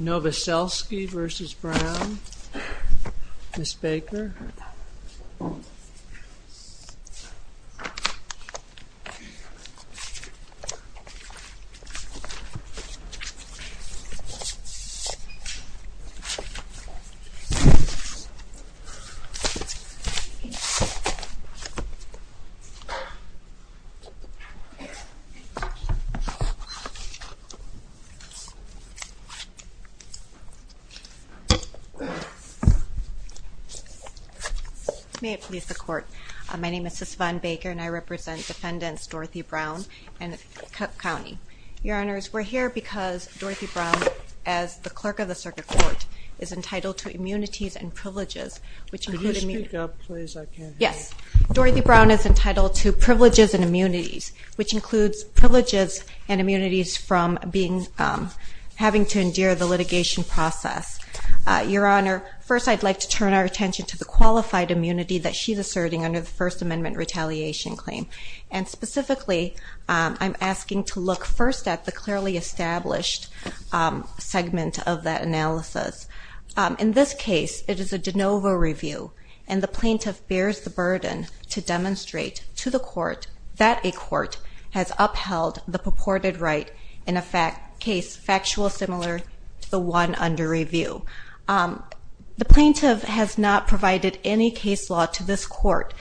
Novoselsky v. Brown, Ms. Baker May it please the Court, my name is Sussvan Baker and I represent defendants Dorothy Brown and Cook County. Your Honors, we're here because Dorothy Brown, as the Clerk of the Circuit Court, is entitled to immunities and privileges, which include... Could you speak up please? I can't hear you. ...the litigation process. Your Honor, first I'd like to turn our attention to the qualified immunity that she's asserting under the First Amendment retaliation claim. And specifically, I'm asking to look first at the clearly established segment of that analysis. In this case, it is a de novo review and the plaintiff bears the burden to demonstrate to the court that a court has upheld the purported right in a case factual similar to the one under review. The plaintiff has not provided any case law to this court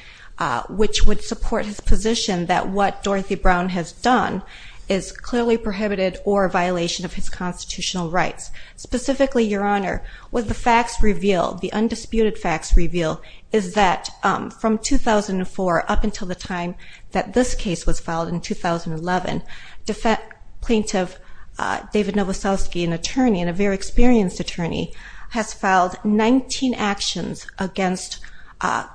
which would support his position that what Dorothy Brown has done is clearly prohibited or a violation of his constitutional rights. Specifically, Your Honor, what the facts reveal, the undisputed facts reveal, is that from 2004 up until the time that this case was filed in 2011, plaintiff David Novoselsky, an attorney and a very experienced attorney, has filed 19 actions against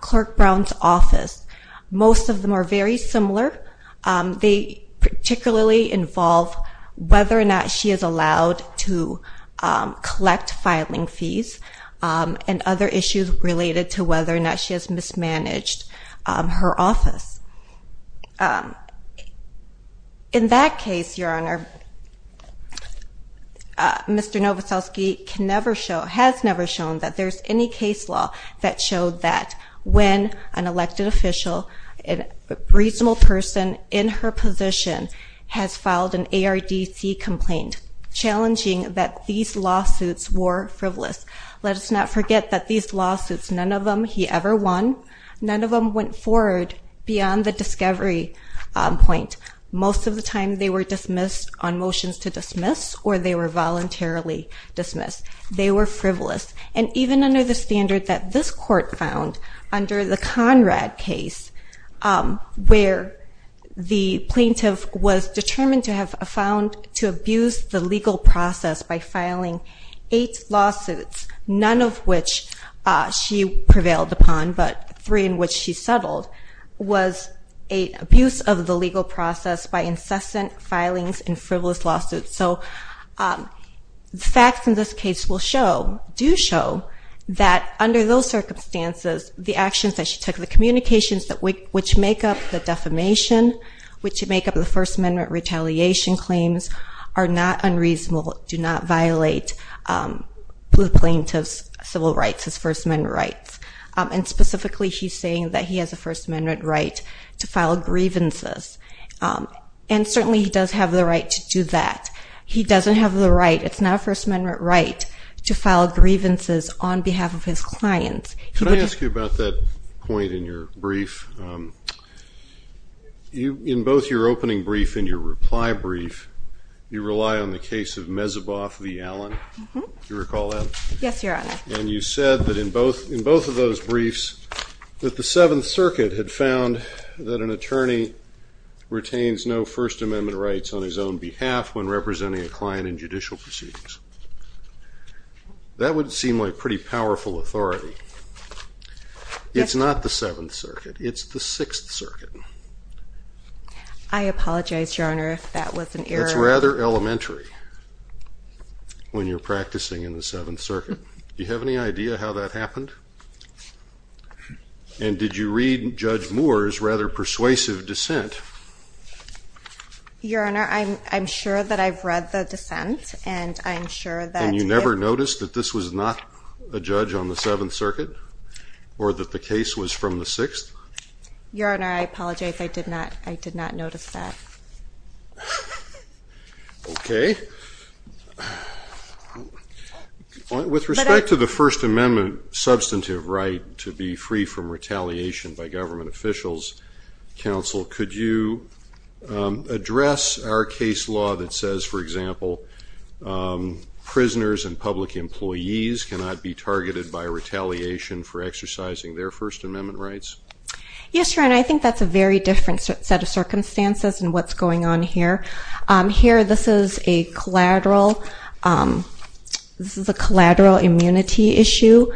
Clerk Brown's office. Most of them are very similar. They particularly involve whether or not she is allowed to collect filing fees and other issues related to whether or not she has mismanaged her office. In that case, Your Honor, Mr. Novoselsky has never shown that there's any case law that showed that when an elected official, a reasonable person in her position, has filed an ARDC complaint challenging that these lawsuits were frivolous. Let us not forget that these lawsuits, none of them he ever won, none of them went forward beyond the discovery point. Most of the time they were dismissed on motions to dismiss or they were voluntarily dismissed. They were frivolous. Even under the standard that this court found under the Conrad case, where the plaintiff was determined to have found to abuse the legal process by filing eight lawsuits, none of which she prevailed upon but three in which she settled, was abuse of the legal process by incessant filings and frivolous lawsuits. The facts in this case do show that under those circumstances, the actions that she took, the communications which make up the defamation, which make up the First Amendment retaliation claims, are not unreasonable, do not violate the plaintiff's civil rights, his First Amendment rights. Specifically, he's saying that he has a First Amendment right to file grievances. And certainly he does have the right to do that. He doesn't have the right, it's not a First Amendment right, to file grievances on behalf of his clients. Can I ask you about that point in your brief? In both your opening brief and your reply brief, you rely on the case of Mezeboff v. Allen. Do you recall that? Yes, Your Honor. And you said that in both of those briefs that the Seventh Circuit had found that an attorney retains no First Amendment rights on his own behalf when representing a client in judicial proceedings. That would seem like pretty powerful authority. It's not the Seventh Circuit. It's the Sixth Circuit. That's rather elementary when you're practicing in the Seventh Circuit. Do you have any idea how that happened? And did you read Judge Moore's rather persuasive dissent? Your Honor, I'm sure that I've read the dissent and I'm sure that... And you never noticed that this was not a judge on the Seventh Circuit or that the case was from the Sixth? Your Honor, I apologize. I did not notice that. Okay. With respect to the First Amendment substantive right to be free from retaliation by government officials, Counsel, could you address our case law that says, for example, prisoners and public employees cannot be targeted by retaliation for exercising their First Amendment rights? Yes, Your Honor. I think that's a very different set of circumstances in what's going on here. Here, this is a collateral immunity issue.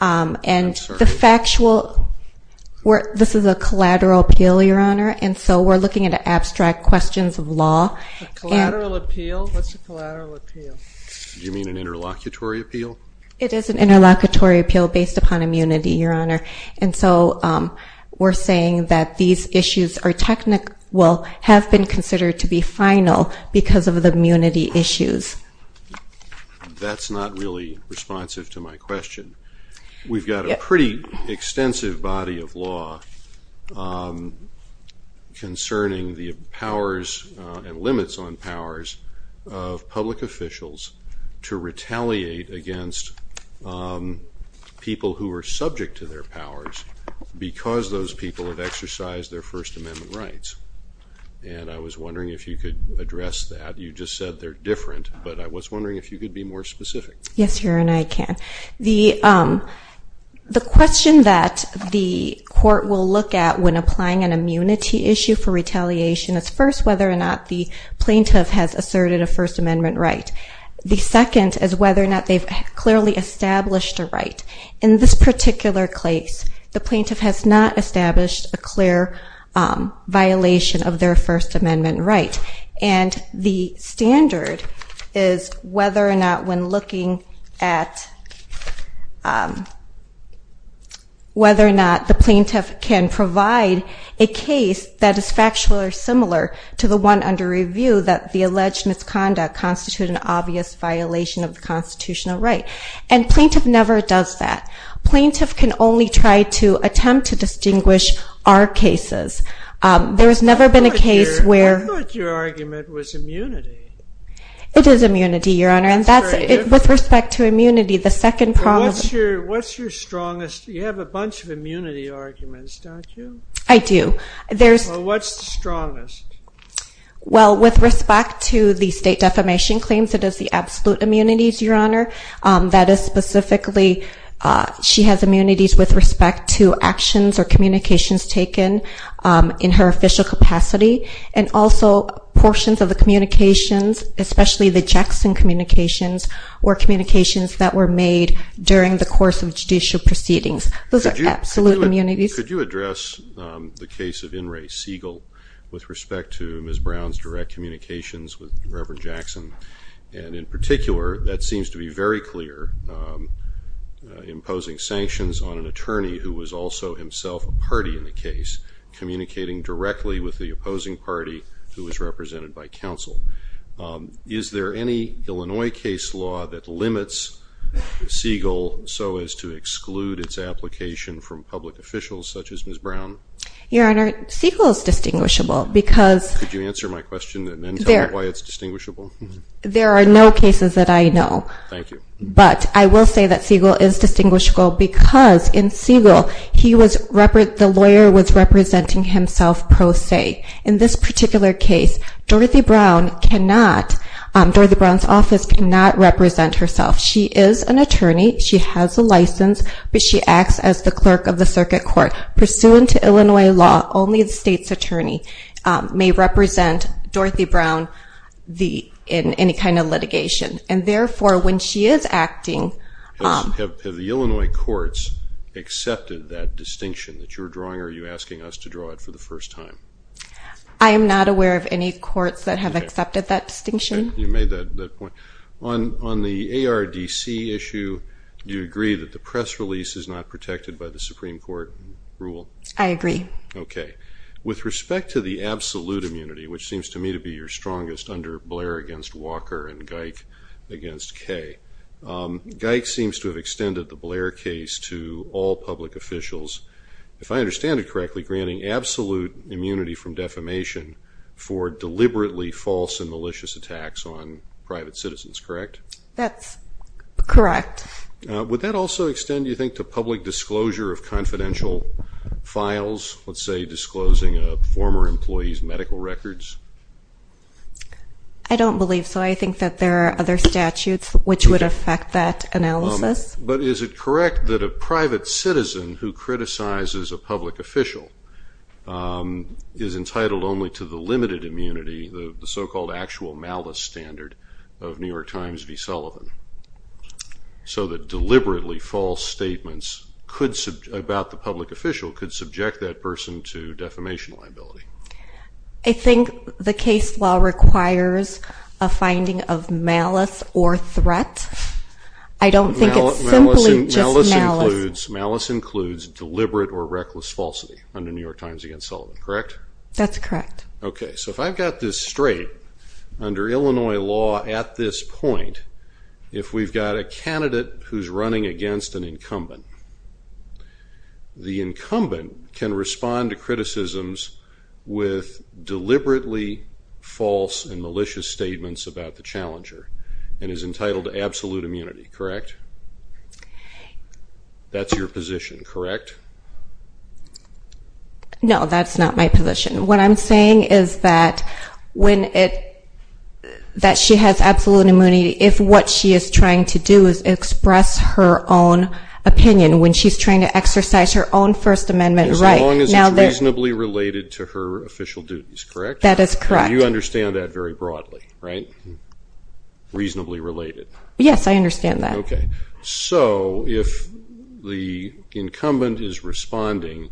And the factual... This is a collateral appeal, Your Honor. And so we're looking at abstract questions of law. Collateral appeal? What's a collateral appeal? Do you mean an interlocutory appeal? It is an interlocutory appeal based upon immunity, Your Honor. And so we're saying that these issues are technically... have been considered to be final because of the immunity issues. That's not really responsive to my question. We've got a pretty extensive body of law concerning the powers and limits on powers of public officials to retaliate against people who are subject to their powers because those people have exercised their First Amendment rights. And I was wondering if you could address that. You just said they're different, but I was wondering if you could be more specific. Yes, Your Honor, I can. The question that the court will look at when applying an immunity issue for retaliation is first whether or not the plaintiff has asserted a First Amendment right. The second is whether or not they've clearly established a right. In this particular case, the plaintiff has not established a clear violation of their First Amendment right. And the standard is whether or not when looking at whether or not the plaintiff can provide a case that is factual or similar to the one under review that the alleged misconduct constitutes an obvious violation of the constitutional right. And plaintiff never does that. Plaintiff can only try to attempt to distinguish our cases. I thought your argument was immunity. It is immunity, Your Honor. That's very different. With respect to immunity, the second problem is... What's your strongest? You have a bunch of immunity arguments, don't you? I do. Well, what's the strongest? Well, with respect to the state defamation claims, it is the absolute immunities, Your Honor. That is specifically she has immunities with respect to actions or communications taken in her official capacity and also portions of the communications, especially the Jackson communications or communications that were made during the course of judicial proceedings. Those are absolute immunities. Could you address the case of In re Segal with respect to Ms. Brown's direct communications with Reverend Jackson? And in particular, that seems to be very clear, imposing sanctions on an attorney who was also himself a party in the case, communicating directly with the opposing party who was represented by counsel. Is there any Illinois case law that limits Segal so as to exclude its application from public officials such as Ms. Brown? Your Honor, Segal is distinguishable because... Could you answer my question and then tell me why it's distinguishable? There are no cases that I know. Thank you. But I will say that Segal is distinguishable because in Segal, the lawyer was representing himself pro se. In this particular case, Dorothy Brown cannot, Dorothy Brown's office cannot represent herself. She is an attorney. She has a license, but she acts as the clerk of the circuit court. Pursuant to Illinois law, only the state's attorney may represent Dorothy Brown in any kind of litigation. And therefore, when she is acting... Have the Illinois courts accepted that distinction that you're drawing or are you asking us to draw it for the first time? I am not aware of any courts that have accepted that distinction. You made that point. On the ARDC issue, do you agree that the press release is not protected by the Supreme Court rule? I agree. Okay. With respect to the absolute immunity, which seems to me to be your strongest, under Blair against Walker and Geick against Kay, Geick seems to have extended the Blair case to all public officials, if I understand it correctly, granting absolute immunity from defamation for deliberately false and malicious attacks on private citizens, correct? That's correct. Would that also extend, do you think, to public disclosure of confidential files, let's say disclosing a former employee's medical records? I don't believe so. I think that there are other statutes which would affect that analysis. But is it correct that a private citizen who criticizes a public official is entitled only to the limited immunity, the so-called actual malice standard, of New York Times v. Sullivan, so that deliberately false statements about the public official could subject that person to defamation liability? I think the case law requires a finding of malice or threat. I don't think it's simply just malice. Malice includes deliberate or reckless falsity under New York Times v. Sullivan, correct? That's correct. Okay. So if I've got this straight, under Illinois law at this point, if we've got a candidate who's running against an incumbent, the incumbent can respond to criticisms with deliberately false and malicious statements about the challenger and is entitled to absolute immunity, correct? That's your position, correct? No, that's not my position. What I'm saying is that she has absolute immunity if what she is trying to do is express her own opinion, when she's trying to exercise her own First Amendment right. As long as it's reasonably related to her official duties, correct? That is correct. You understand that very broadly, right? Reasonably related. Yes, I understand that. Okay. So if the incumbent is responding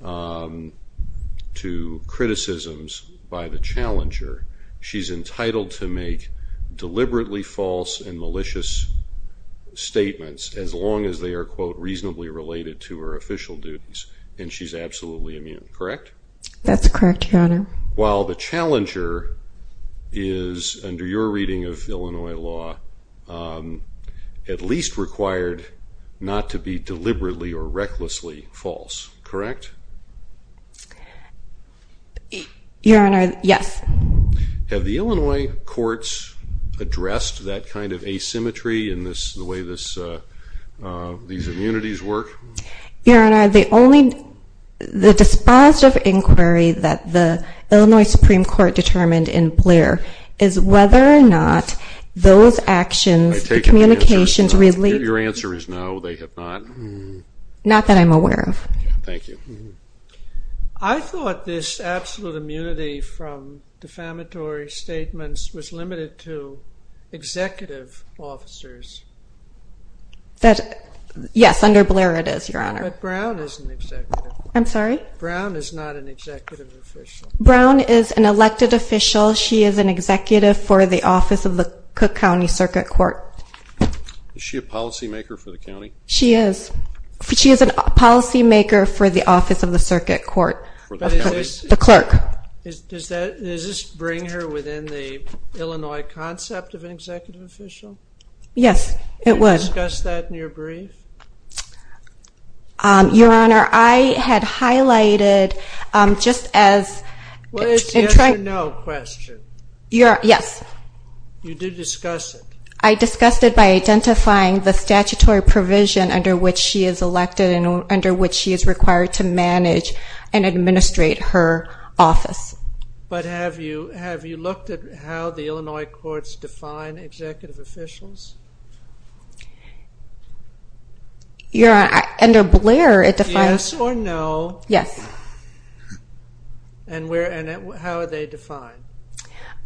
to criticisms by the challenger, she's entitled to make deliberately false and malicious statements as long as they are, quote, reasonably related to her official duties, and she's absolutely immune, correct? That's correct, Your Honor. While the challenger is, under your reading of Illinois law, at least required not to be deliberately or recklessly false, correct? Your Honor, yes. Have the Illinois courts addressed that kind of asymmetry in the way these immunities work? Your Honor, the dispositive inquiry that the Illinois Supreme Court determined in Blair is whether or not those actions, the communications related to this. Your answer is no, they have not. Not that I'm aware of. Thank you. I thought this absolute immunity from defamatory statements was limited to executive officers. Yes, under Blair it is, Your Honor. But Brown is an executive. I'm sorry? Brown is not an executive official. Brown is an elected official. She is an executive for the Office of the Cook County Circuit Court. Is she a policymaker for the county? She is. She is a policymaker for the Office of the Circuit Court, the clerk. Does this bring her within the Illinois concept of an executive official? Yes, it would. Did you discuss that in your brief? Your Honor, I had highlighted just as... Well, it's a yes or no question. Yes. You did discuss it. I discussed it by identifying the statutory provision under which she is elected and under which she is required to manage and administrate her office. But have you looked at how the Illinois courts define executive officials? Your Honor, under Blair it defines... Yes or no? Yes. And how are they defined?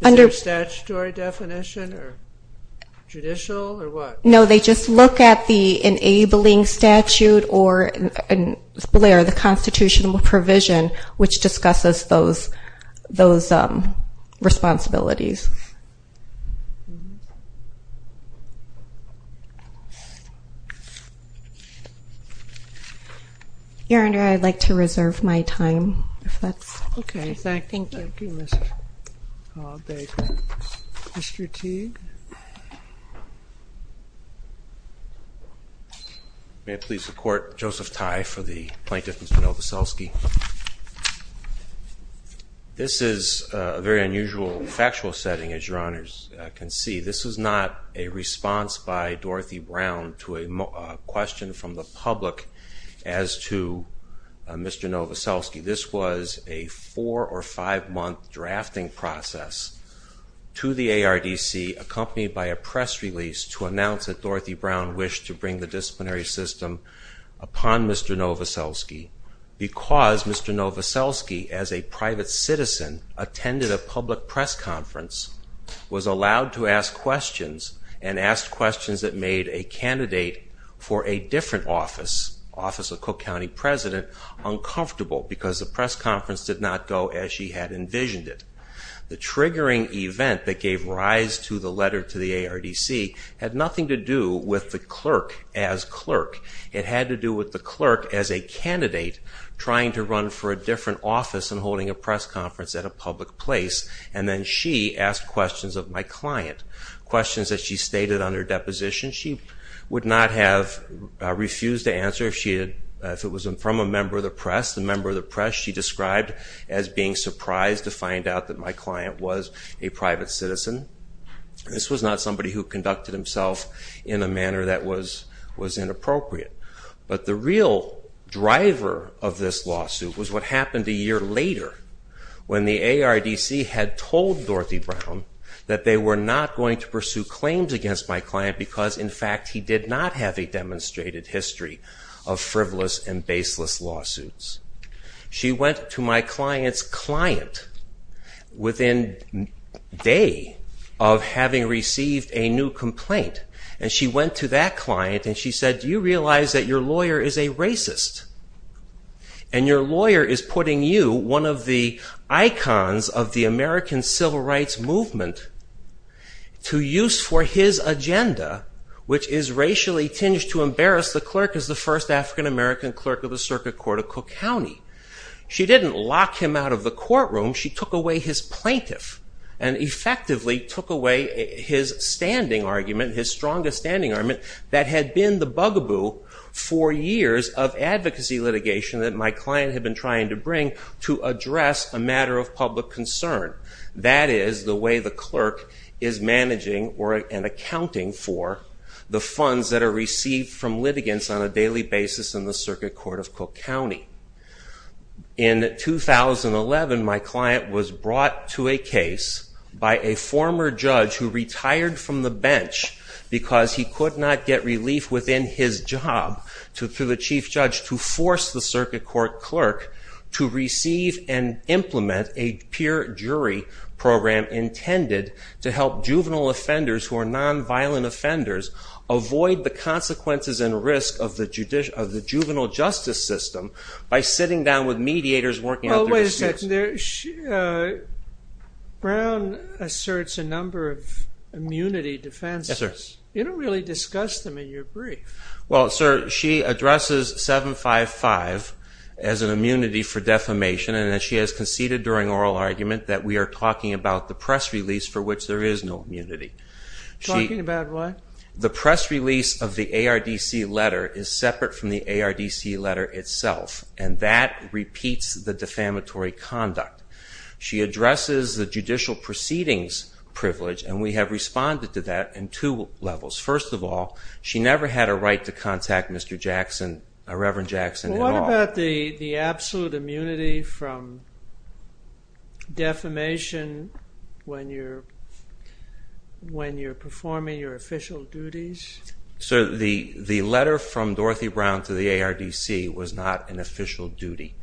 Is there a statutory definition or judicial or what? Or is there the constitutional provision which discusses those responsibilities? Your Honor, I'd like to reserve my time if that's... Okay. Thank you. Mr. Teague? May it please the Court? Joseph Teague for the plaintiff, Mr. Nowoselski. This is a very unusual factual setting, as Your Honors can see. This was not a response by Dorothy Brown to a question from the public as to Mr. Nowoselski. This was a four- or five-month drafting process to the ARDC accompanied by a press release to announce that Dorothy Brown wished to bring the disciplinary system upon Mr. Nowoselski because Mr. Nowoselski, as a private citizen, attended a public press conference, was allowed to ask questions, and asked questions that made a candidate for a different office, Office of Cook County President, uncomfortable because the press conference did not go as she had envisioned it. The triggering event that gave rise to the letter to the ARDC had nothing to do with the clerk as clerk. It had to do with the clerk as a candidate trying to run for a different office and holding a press conference at a public place, and then she asked questions of my client, questions that she stated under deposition she would not have refused to answer if it was from a member of the press. The member of the press she described as being surprised to find out that my client was a private citizen. This was not somebody who conducted himself in a manner that was inappropriate. But the real driver of this lawsuit was what happened a year later when the ARDC had told Dorothy Brown that they were not going to pursue claims against my client because, in fact, he did not have a demonstrated history of frivolous and baseless lawsuits. She went to my client's client within a day of having received a new complaint, and she went to that client and she said, Do you realize that your lawyer is a racist? And your lawyer is putting you, one of the icons of the American Civil Rights Movement, to use for his agenda, which is racially tinged to embarrass the clerk as the first African-American clerk of the Circuit Court of Cook County. She didn't lock him out of the courtroom. She took away his plaintiff and effectively took away his standing argument, his strongest standing argument, that had been the bugaboo for years of advocacy litigation that my client had been trying to bring to address a matter of public concern. That is the way the clerk is managing and accounting for the funds that are received from litigants on a daily basis in the Circuit Court of Cook County. In 2011, my client was brought to a case by a former judge who retired from the bench because he could not get relief within his job to the chief judge to force the Circuit Court clerk to receive and implement a peer jury program intended to help juvenile offenders, who are non-violent offenders, avoid the consequences and risk of the juvenile justice system by sitting down with mediators working out their disputes. Wait a second. Brown asserts a number of immunity defenses. You don't really discuss them in your brief. Well, sir, she addresses 755 as an immunity for defamation and she has conceded during oral argument that we are talking about the press release for which there is no immunity. Talking about what? The press release of the ARDC letter is separate from the ARDC letter itself and that repeats the defamatory conduct. She addresses the judicial proceedings privilege and we have responded to that in two levels. First of all, she never had a right to contact Mr. Jackson, Reverend Jackson, at all. What about the absolute immunity from defamation when you're performing your official duties? Sir, the letter from Dorothy Brown to the ARDC was not an official duty.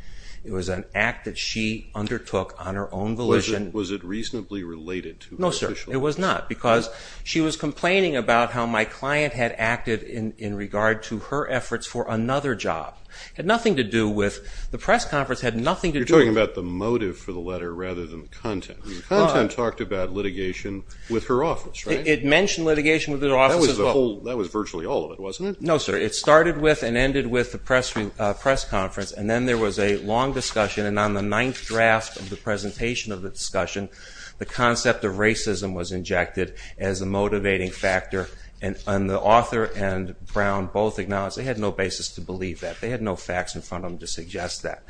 It was an act that she undertook on her own volition. Was it reasonably related to her official duties? No, sir, it was not because she was complaining about how my client had acted in regard to her efforts for another job. It had nothing to do with... The press conference had nothing to do... You're talking about the motive for the letter rather than the content. The content talked about litigation with her office, right? It mentioned litigation with her office as well. That was virtually all of it, wasn't it? No, sir, it started with and ended with the press conference and then there was a long discussion and on the ninth draft of the presentation of the discussion, the concept of racism was injected as a motivating factor and the author and Brown both acknowledged they had no basis to believe that. They had no facts in front of them to suggest that.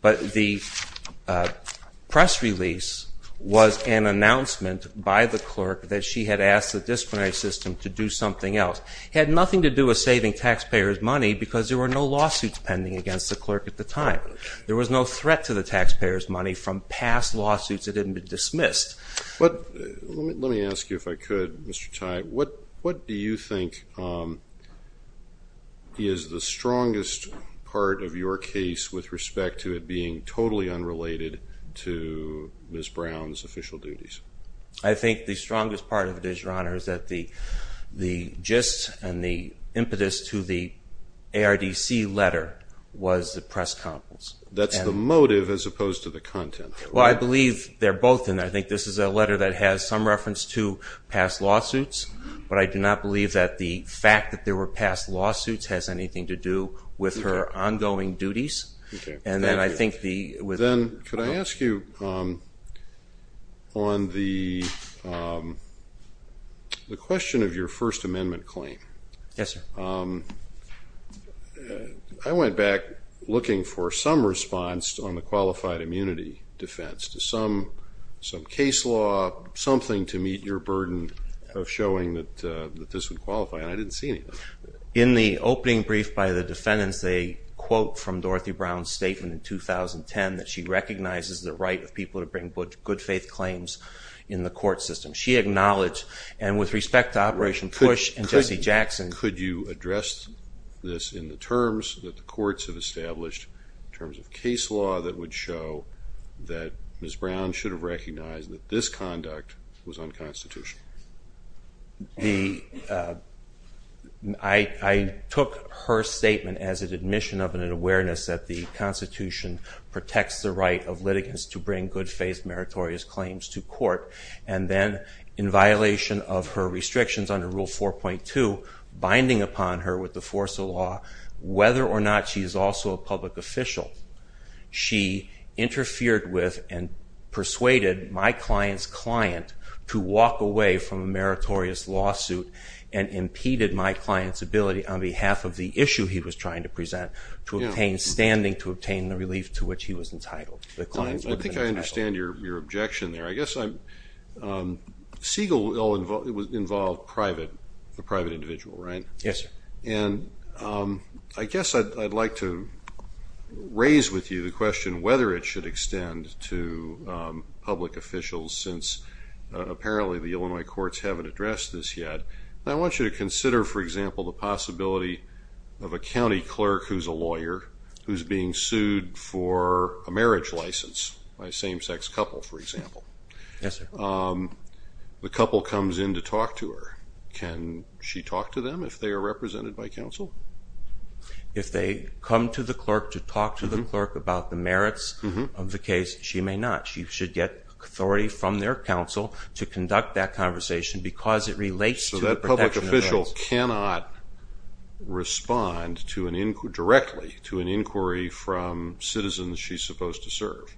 But the press release was an announcement by the clerk that she had asked the disciplinary system to do something else. It had nothing to do with saving taxpayers' money because there were no lawsuits pending against the clerk at the time. There was no threat to the taxpayers' money from past lawsuits that hadn't been dismissed. Let me ask you, if I could, Mr. Tye, what do you think is the strongest part of your case with respect to it being totally unrelated to Ms. Brown's official duties? I think the strongest part of it is, Your Honor, is that the gist and the impetus to the ARDC letter was the press conference. That's the motive as opposed to the content. Well, I believe they're both, and I think this is a letter that has some reference to past lawsuits, but I do not believe that the fact that there were past lawsuits has anything to do with her ongoing duties. And then I think the... Then could I ask you on the question of your First Amendment claim? Yes, sir. I went back looking for some response on the qualified immunity defense. Some case law, something to meet your burden of showing that this would qualify, and I didn't see anything. In the opening brief by the defendants, they quote from Dorothy Brown's statement in 2010 that she recognizes the right of people to bring good faith claims in the court system. She acknowledged, and with respect to Operation Push and Jesse Jackson... Could you address this in the terms that the courts have established, in terms of case law that would show that Ms. Brown should have recognized that this conduct was unconstitutional? I took her statement as an admission of an awareness that the Constitution protects the right of litigants to bring good faith meritorious claims to court, and then in violation of her restrictions under Rule 4.2, binding upon her with the force of law, whether or not she is also a public official. She interfered with and persuaded my client's client to walk away from a meritorious lawsuit and impeded my client's ability, on behalf of the issue he was trying to present, to obtain standing, to obtain the relief to which he was entitled. I think I understand your objection there. Siegel involved the private individual, right? Yes, sir. I guess I'd like to raise with you the question whether it should extend to public officials, since apparently the Illinois courts haven't addressed this yet. I want you to consider, for example, the possibility of a county clerk who's a lawyer, who's being sued for a marriage license, by a same-sex couple, for example. Yes, sir. The couple comes in to talk to her. Can she talk to them, if they are represented by counsel? If they come to the clerk to talk to the clerk about the merits of the case, she may not. She should get authority from their counsel to conduct that conversation because it relates to the protection of rights. So that public official cannot respond directly to an inquiry from citizens she's supposed to serve.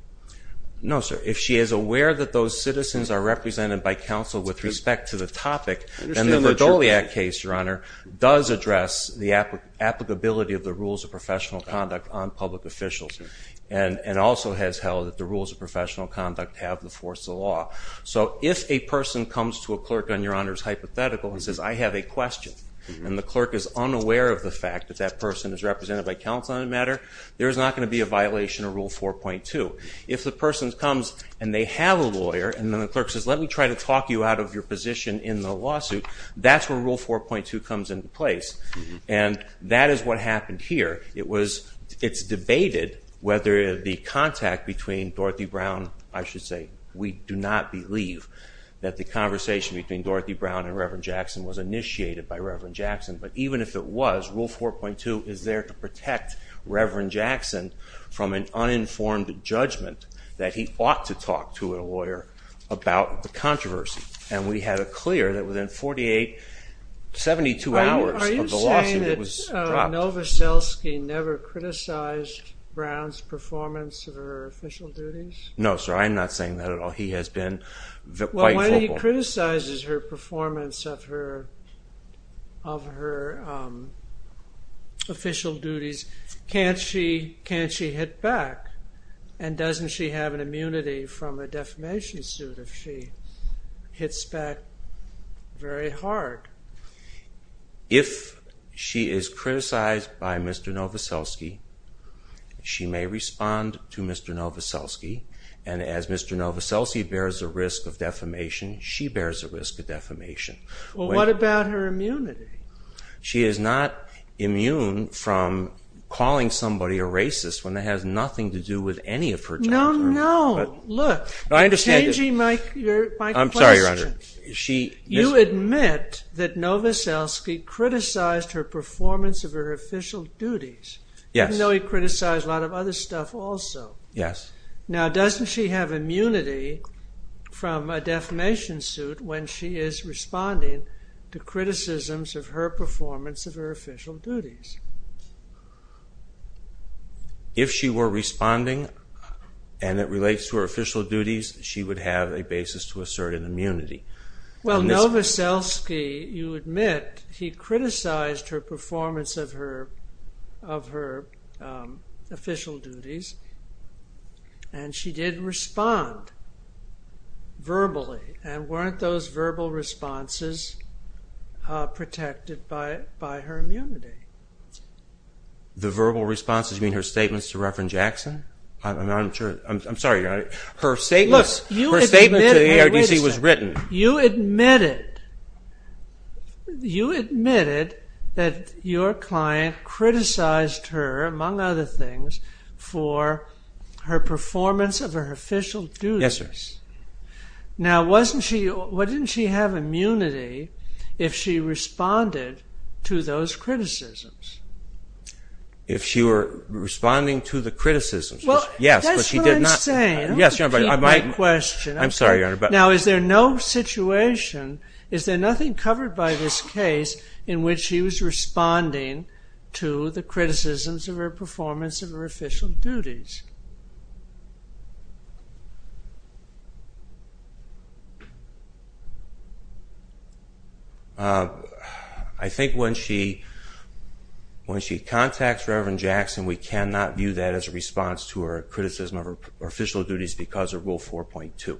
No, sir. If she is aware that those citizens are represented by counsel with respect to the topic, then the Verdoliak case, Your Honor, does address the applicability of the rules of professional conduct on public officials and also has held that the rules of professional conduct have the force of law. So if a person comes to a clerk on Your Honor's hypothetical and says, I have a question, and the clerk is unaware of the fact that that person is represented by counsel on the matter, there is not going to be a violation of Rule 4.2. If the person comes and they have a lawyer and the clerk says, let me try to talk you out of your position in the lawsuit, that's where Rule 4.2 comes into place. And that is what happened here. It's debated whether the contact between Dorothy Brown, I should say, we do not believe that the conversation between Dorothy Brown and Reverend Jackson was initiated by Reverend Jackson, but even if it was, Rule 4.2 is there to protect Reverend Jackson from an uninformed judgment that he ought to talk to a lawyer about the controversy. And we had it clear that within 48, 72 hours of the lawsuit, it was dropped. Are you saying that Novoselsky never criticized Brown's performance of her official duties? No, sir, I am not saying that at all. He has been quite vocal. Well, when he criticizes her performance of her official duties, can't she hit back? And doesn't she have an immunity from a defamation suit if she hits back very hard? If she is criticized by Mr. Novoselsky, she may respond to Mr. Novoselsky and as Mr. Novoselsky bears a risk of defamation, she bears a risk of defamation. Well, what about her immunity? She is not immune from calling somebody a racist when it has nothing to do with any of her job. No, no. Look, you're changing my question. I'm sorry, Your Honor. You admit that Novoselsky criticized her performance of her official duties. Yes. Even though he criticized a lot of other stuff also. Yes. Now, doesn't she have immunity from a defamation suit when she is responding to criticisms of her performance of her official duties? If she were responding and it relates to her official duties, she would have a basis to assert an immunity. Well, Novoselsky, you admit, he criticized her performance of her official duties and she did respond verbally and weren't those verbal responses protected by her immunity. The verbal responses mean her statements to Reverend Jackson? I'm sorry, Your Honor. Her statement to the ARDC was written. You admitted you admitted that your client criticized her among other things for her performance of her official duties. Yes, sir. Now, wasn't she didn't she have immunity if she responded to those criticisms? If she were responding to the criticisms, yes. That's what I'm saying. I'm sorry, Your Honor. Now, is there no situation is there nothing covered by this case in which she was responding to the criticisms of her performance of her official duties? I think when she contacts Reverend Jackson, we cannot view that as a response to her criticism of her official duties because of Rule 4.2.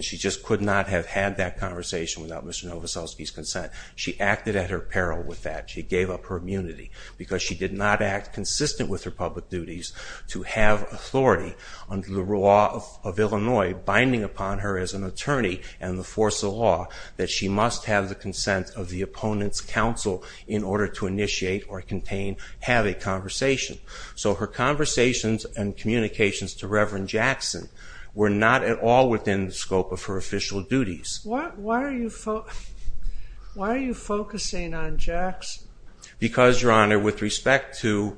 She just could not have had that conversation without Mr. Novoselsky's consent. She acted at her peril with that. She gave up her immunity because she did not act consistent with her public duties to have authority under the law of Illinois binding upon her as an attorney and the force of law that she must have the consent of the opponent's counsel in order to initiate or contain, have a conversation. So her conversations and communications to Reverend Jackson were not at all within the scope of her official duties. Why are you focusing on Jackson? Because, Your Honor, with respect to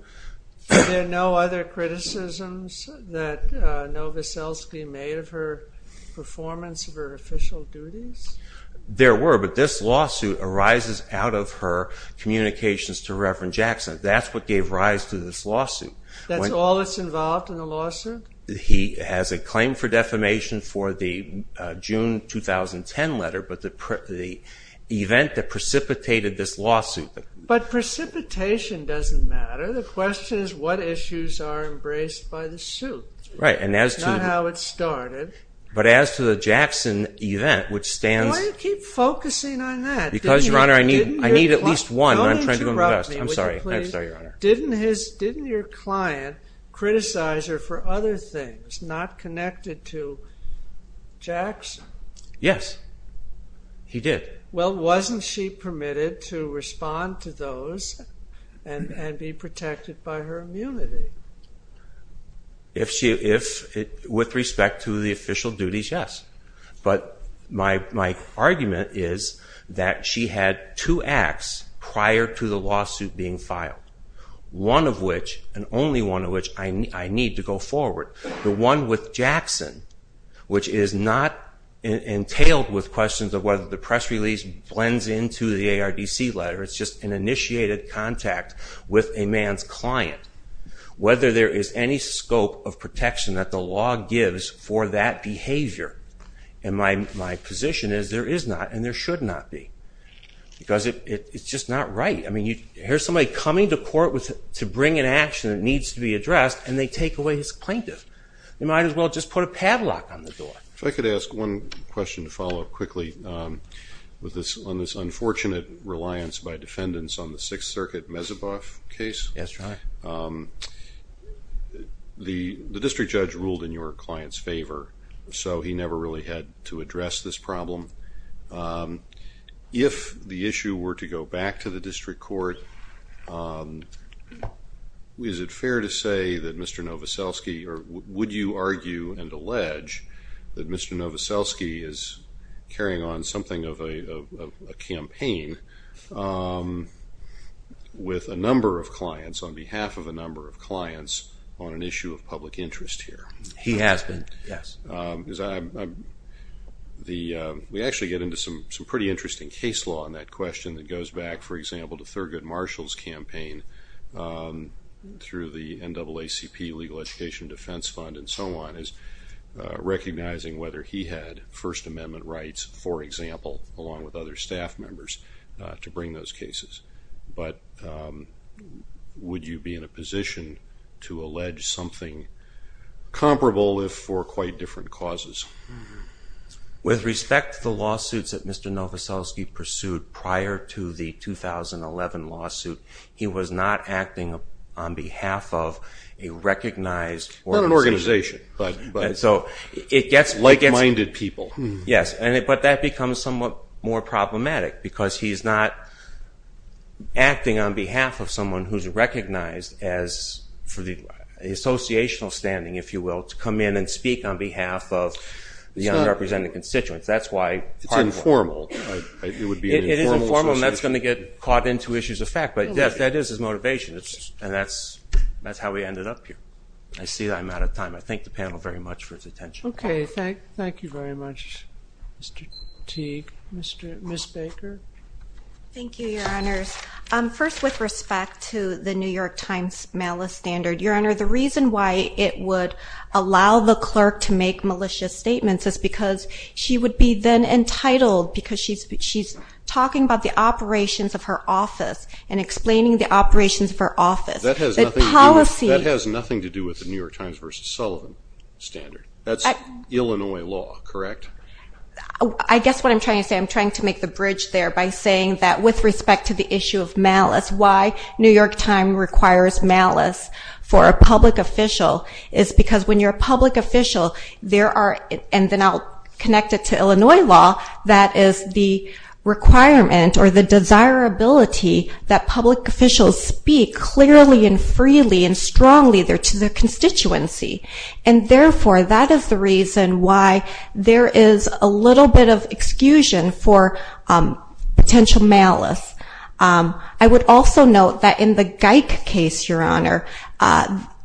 Were there no other criticisms that Novoselsky made of her performance of her official duties? There were, but this lawsuit arises out of her communications to Reverend Jackson. That's what gave rise to this lawsuit. That's all that's involved in the lawsuit? He has a claim for defamation for the June 2010 letter, but the event that precipitated this lawsuit. But precipitation doesn't matter. The question is what issues are embraced by the suit. Right, and as to... That's not how it started. But as to the Jackson event, which stands... Why do you keep focusing on that? Because, Your Honor, I need at least one. Don't interrupt me. I'm sorry. I'm sorry, Your Honor. Didn't your client criticize her for other things, not connected to Jackson? Yes. He did. Well, wasn't she permitted to respond to those and be protected by her immunity? With respect to the official duties, yes. But my argument is that she had two acts prior to the lawsuit being filed. One of which, and only one of which, I need to go forward. The one with Jackson, which is not entailed with questions of whether the press release blends into the ARDC letter. It's just an initiated contact with a man's client. Whether there is any scope of protection that the law gives for that behavior. And my position is there is not and there should not be. Because it's just not right. Here's somebody coming to court to bring an action that needs to be addressed and they take away his plaintiff. They might as well just put a padlock on the door. If I could ask one question to follow up quickly on this unfortunate reliance by defendants on the Sixth Circuit Mezeboff case. Yes, Your Honor. The district judge ruled in your client's favor, so he never really had to address this problem. If the issue were to go back to the district court, is it fair to say that Mr. Nowoselski, or would you argue and allege that Mr. Nowoselski is carrying on something of a campaign with a number of clients, on behalf of a number of clients, on an issue of public interest here? He has been. Yes. We actually get into some pretty interesting case law on that question that goes back, for example, to Thurgood Marshall's campaign through the NAACP Legal Education Defense Fund and so on, is recognizing whether he had First Amendment rights, for example, along with other staff members, to bring those cases. But would you be in a position to allege something comparable if for quite different causes? With respect to the prior to the 2011 lawsuit, he was not acting on behalf of a recognized organization. Not an organization. Like-minded people. Yes, but that becomes somewhat more problematic because he's not acting on behalf of someone who's recognized as for the associational standing, if you will, to come in and speak on behalf of the underrepresented constituents. It's informal. It is informal, and that's going to get caught into issues of fact. That is his motivation, and that's how we ended up here. I see that I'm out of time. I thank the panel very much for its attention. Okay, thank you very much, Mr. Teague. Ms. Baker? Thank you, Your Honors. First, with respect to the New York Times malice standard, Your Honor, the reason why it would allow the clerk to make malicious statements is because she would be then entitled, because she's talking about the operations of her office and explaining the operations of her office. That has nothing to do with the New York Times v. Sullivan standard. That's Illinois law, correct? I guess what I'm trying to say, I'm trying to make the bridge there by saying that with respect to the issue of malice, why New York Times requires malice for a public official is because when you're and then I'll connect it to Illinois law, that is the requirement or the desirability that public officials speak clearly and freely and strongly to their constituency. And therefore, that is the reason why there is a little bit of excuse for potential malice. I would also note that in the Geick case, Your Honor,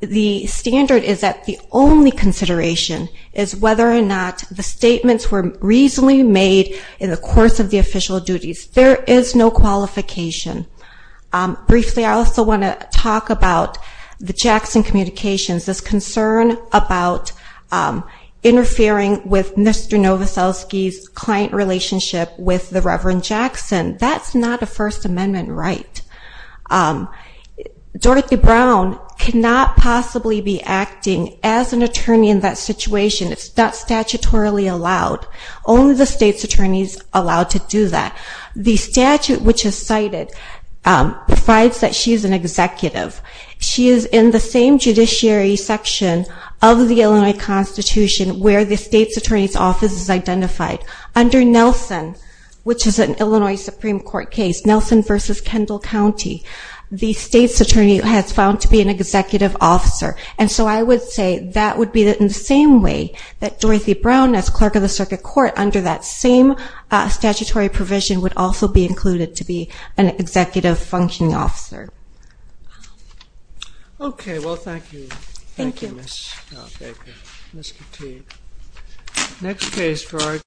the standard is that the only consideration is whether or not the statements were reasonably made in the course of the official duties. There is no qualification. Briefly, I also want to talk about the Jackson communications, this concern about interfering with Mr. Novoselsky's client relationship with the Reverend Jackson. That's not a First Amendment right. Dorothy Brown cannot possibly be acting as an attorney in that situation. It's not statutorily allowed. Only the state's attorneys are allowed to do that. The statute which is cited provides that she's an executive. She is in the same judiciary section of the Illinois Constitution where the state's attorney's office is identified. Under Nelson, which is an Illinois Supreme Court case, Nelson v. Kendall County, the state's attorney has been found to be an executive officer. And so I would say that would be in the same way that Dorothy Brown as clerk of the circuit court under that same statutory provision would also be included to be an executive functioning officer. Okay. Well, thank you. Thank you. Next case, George.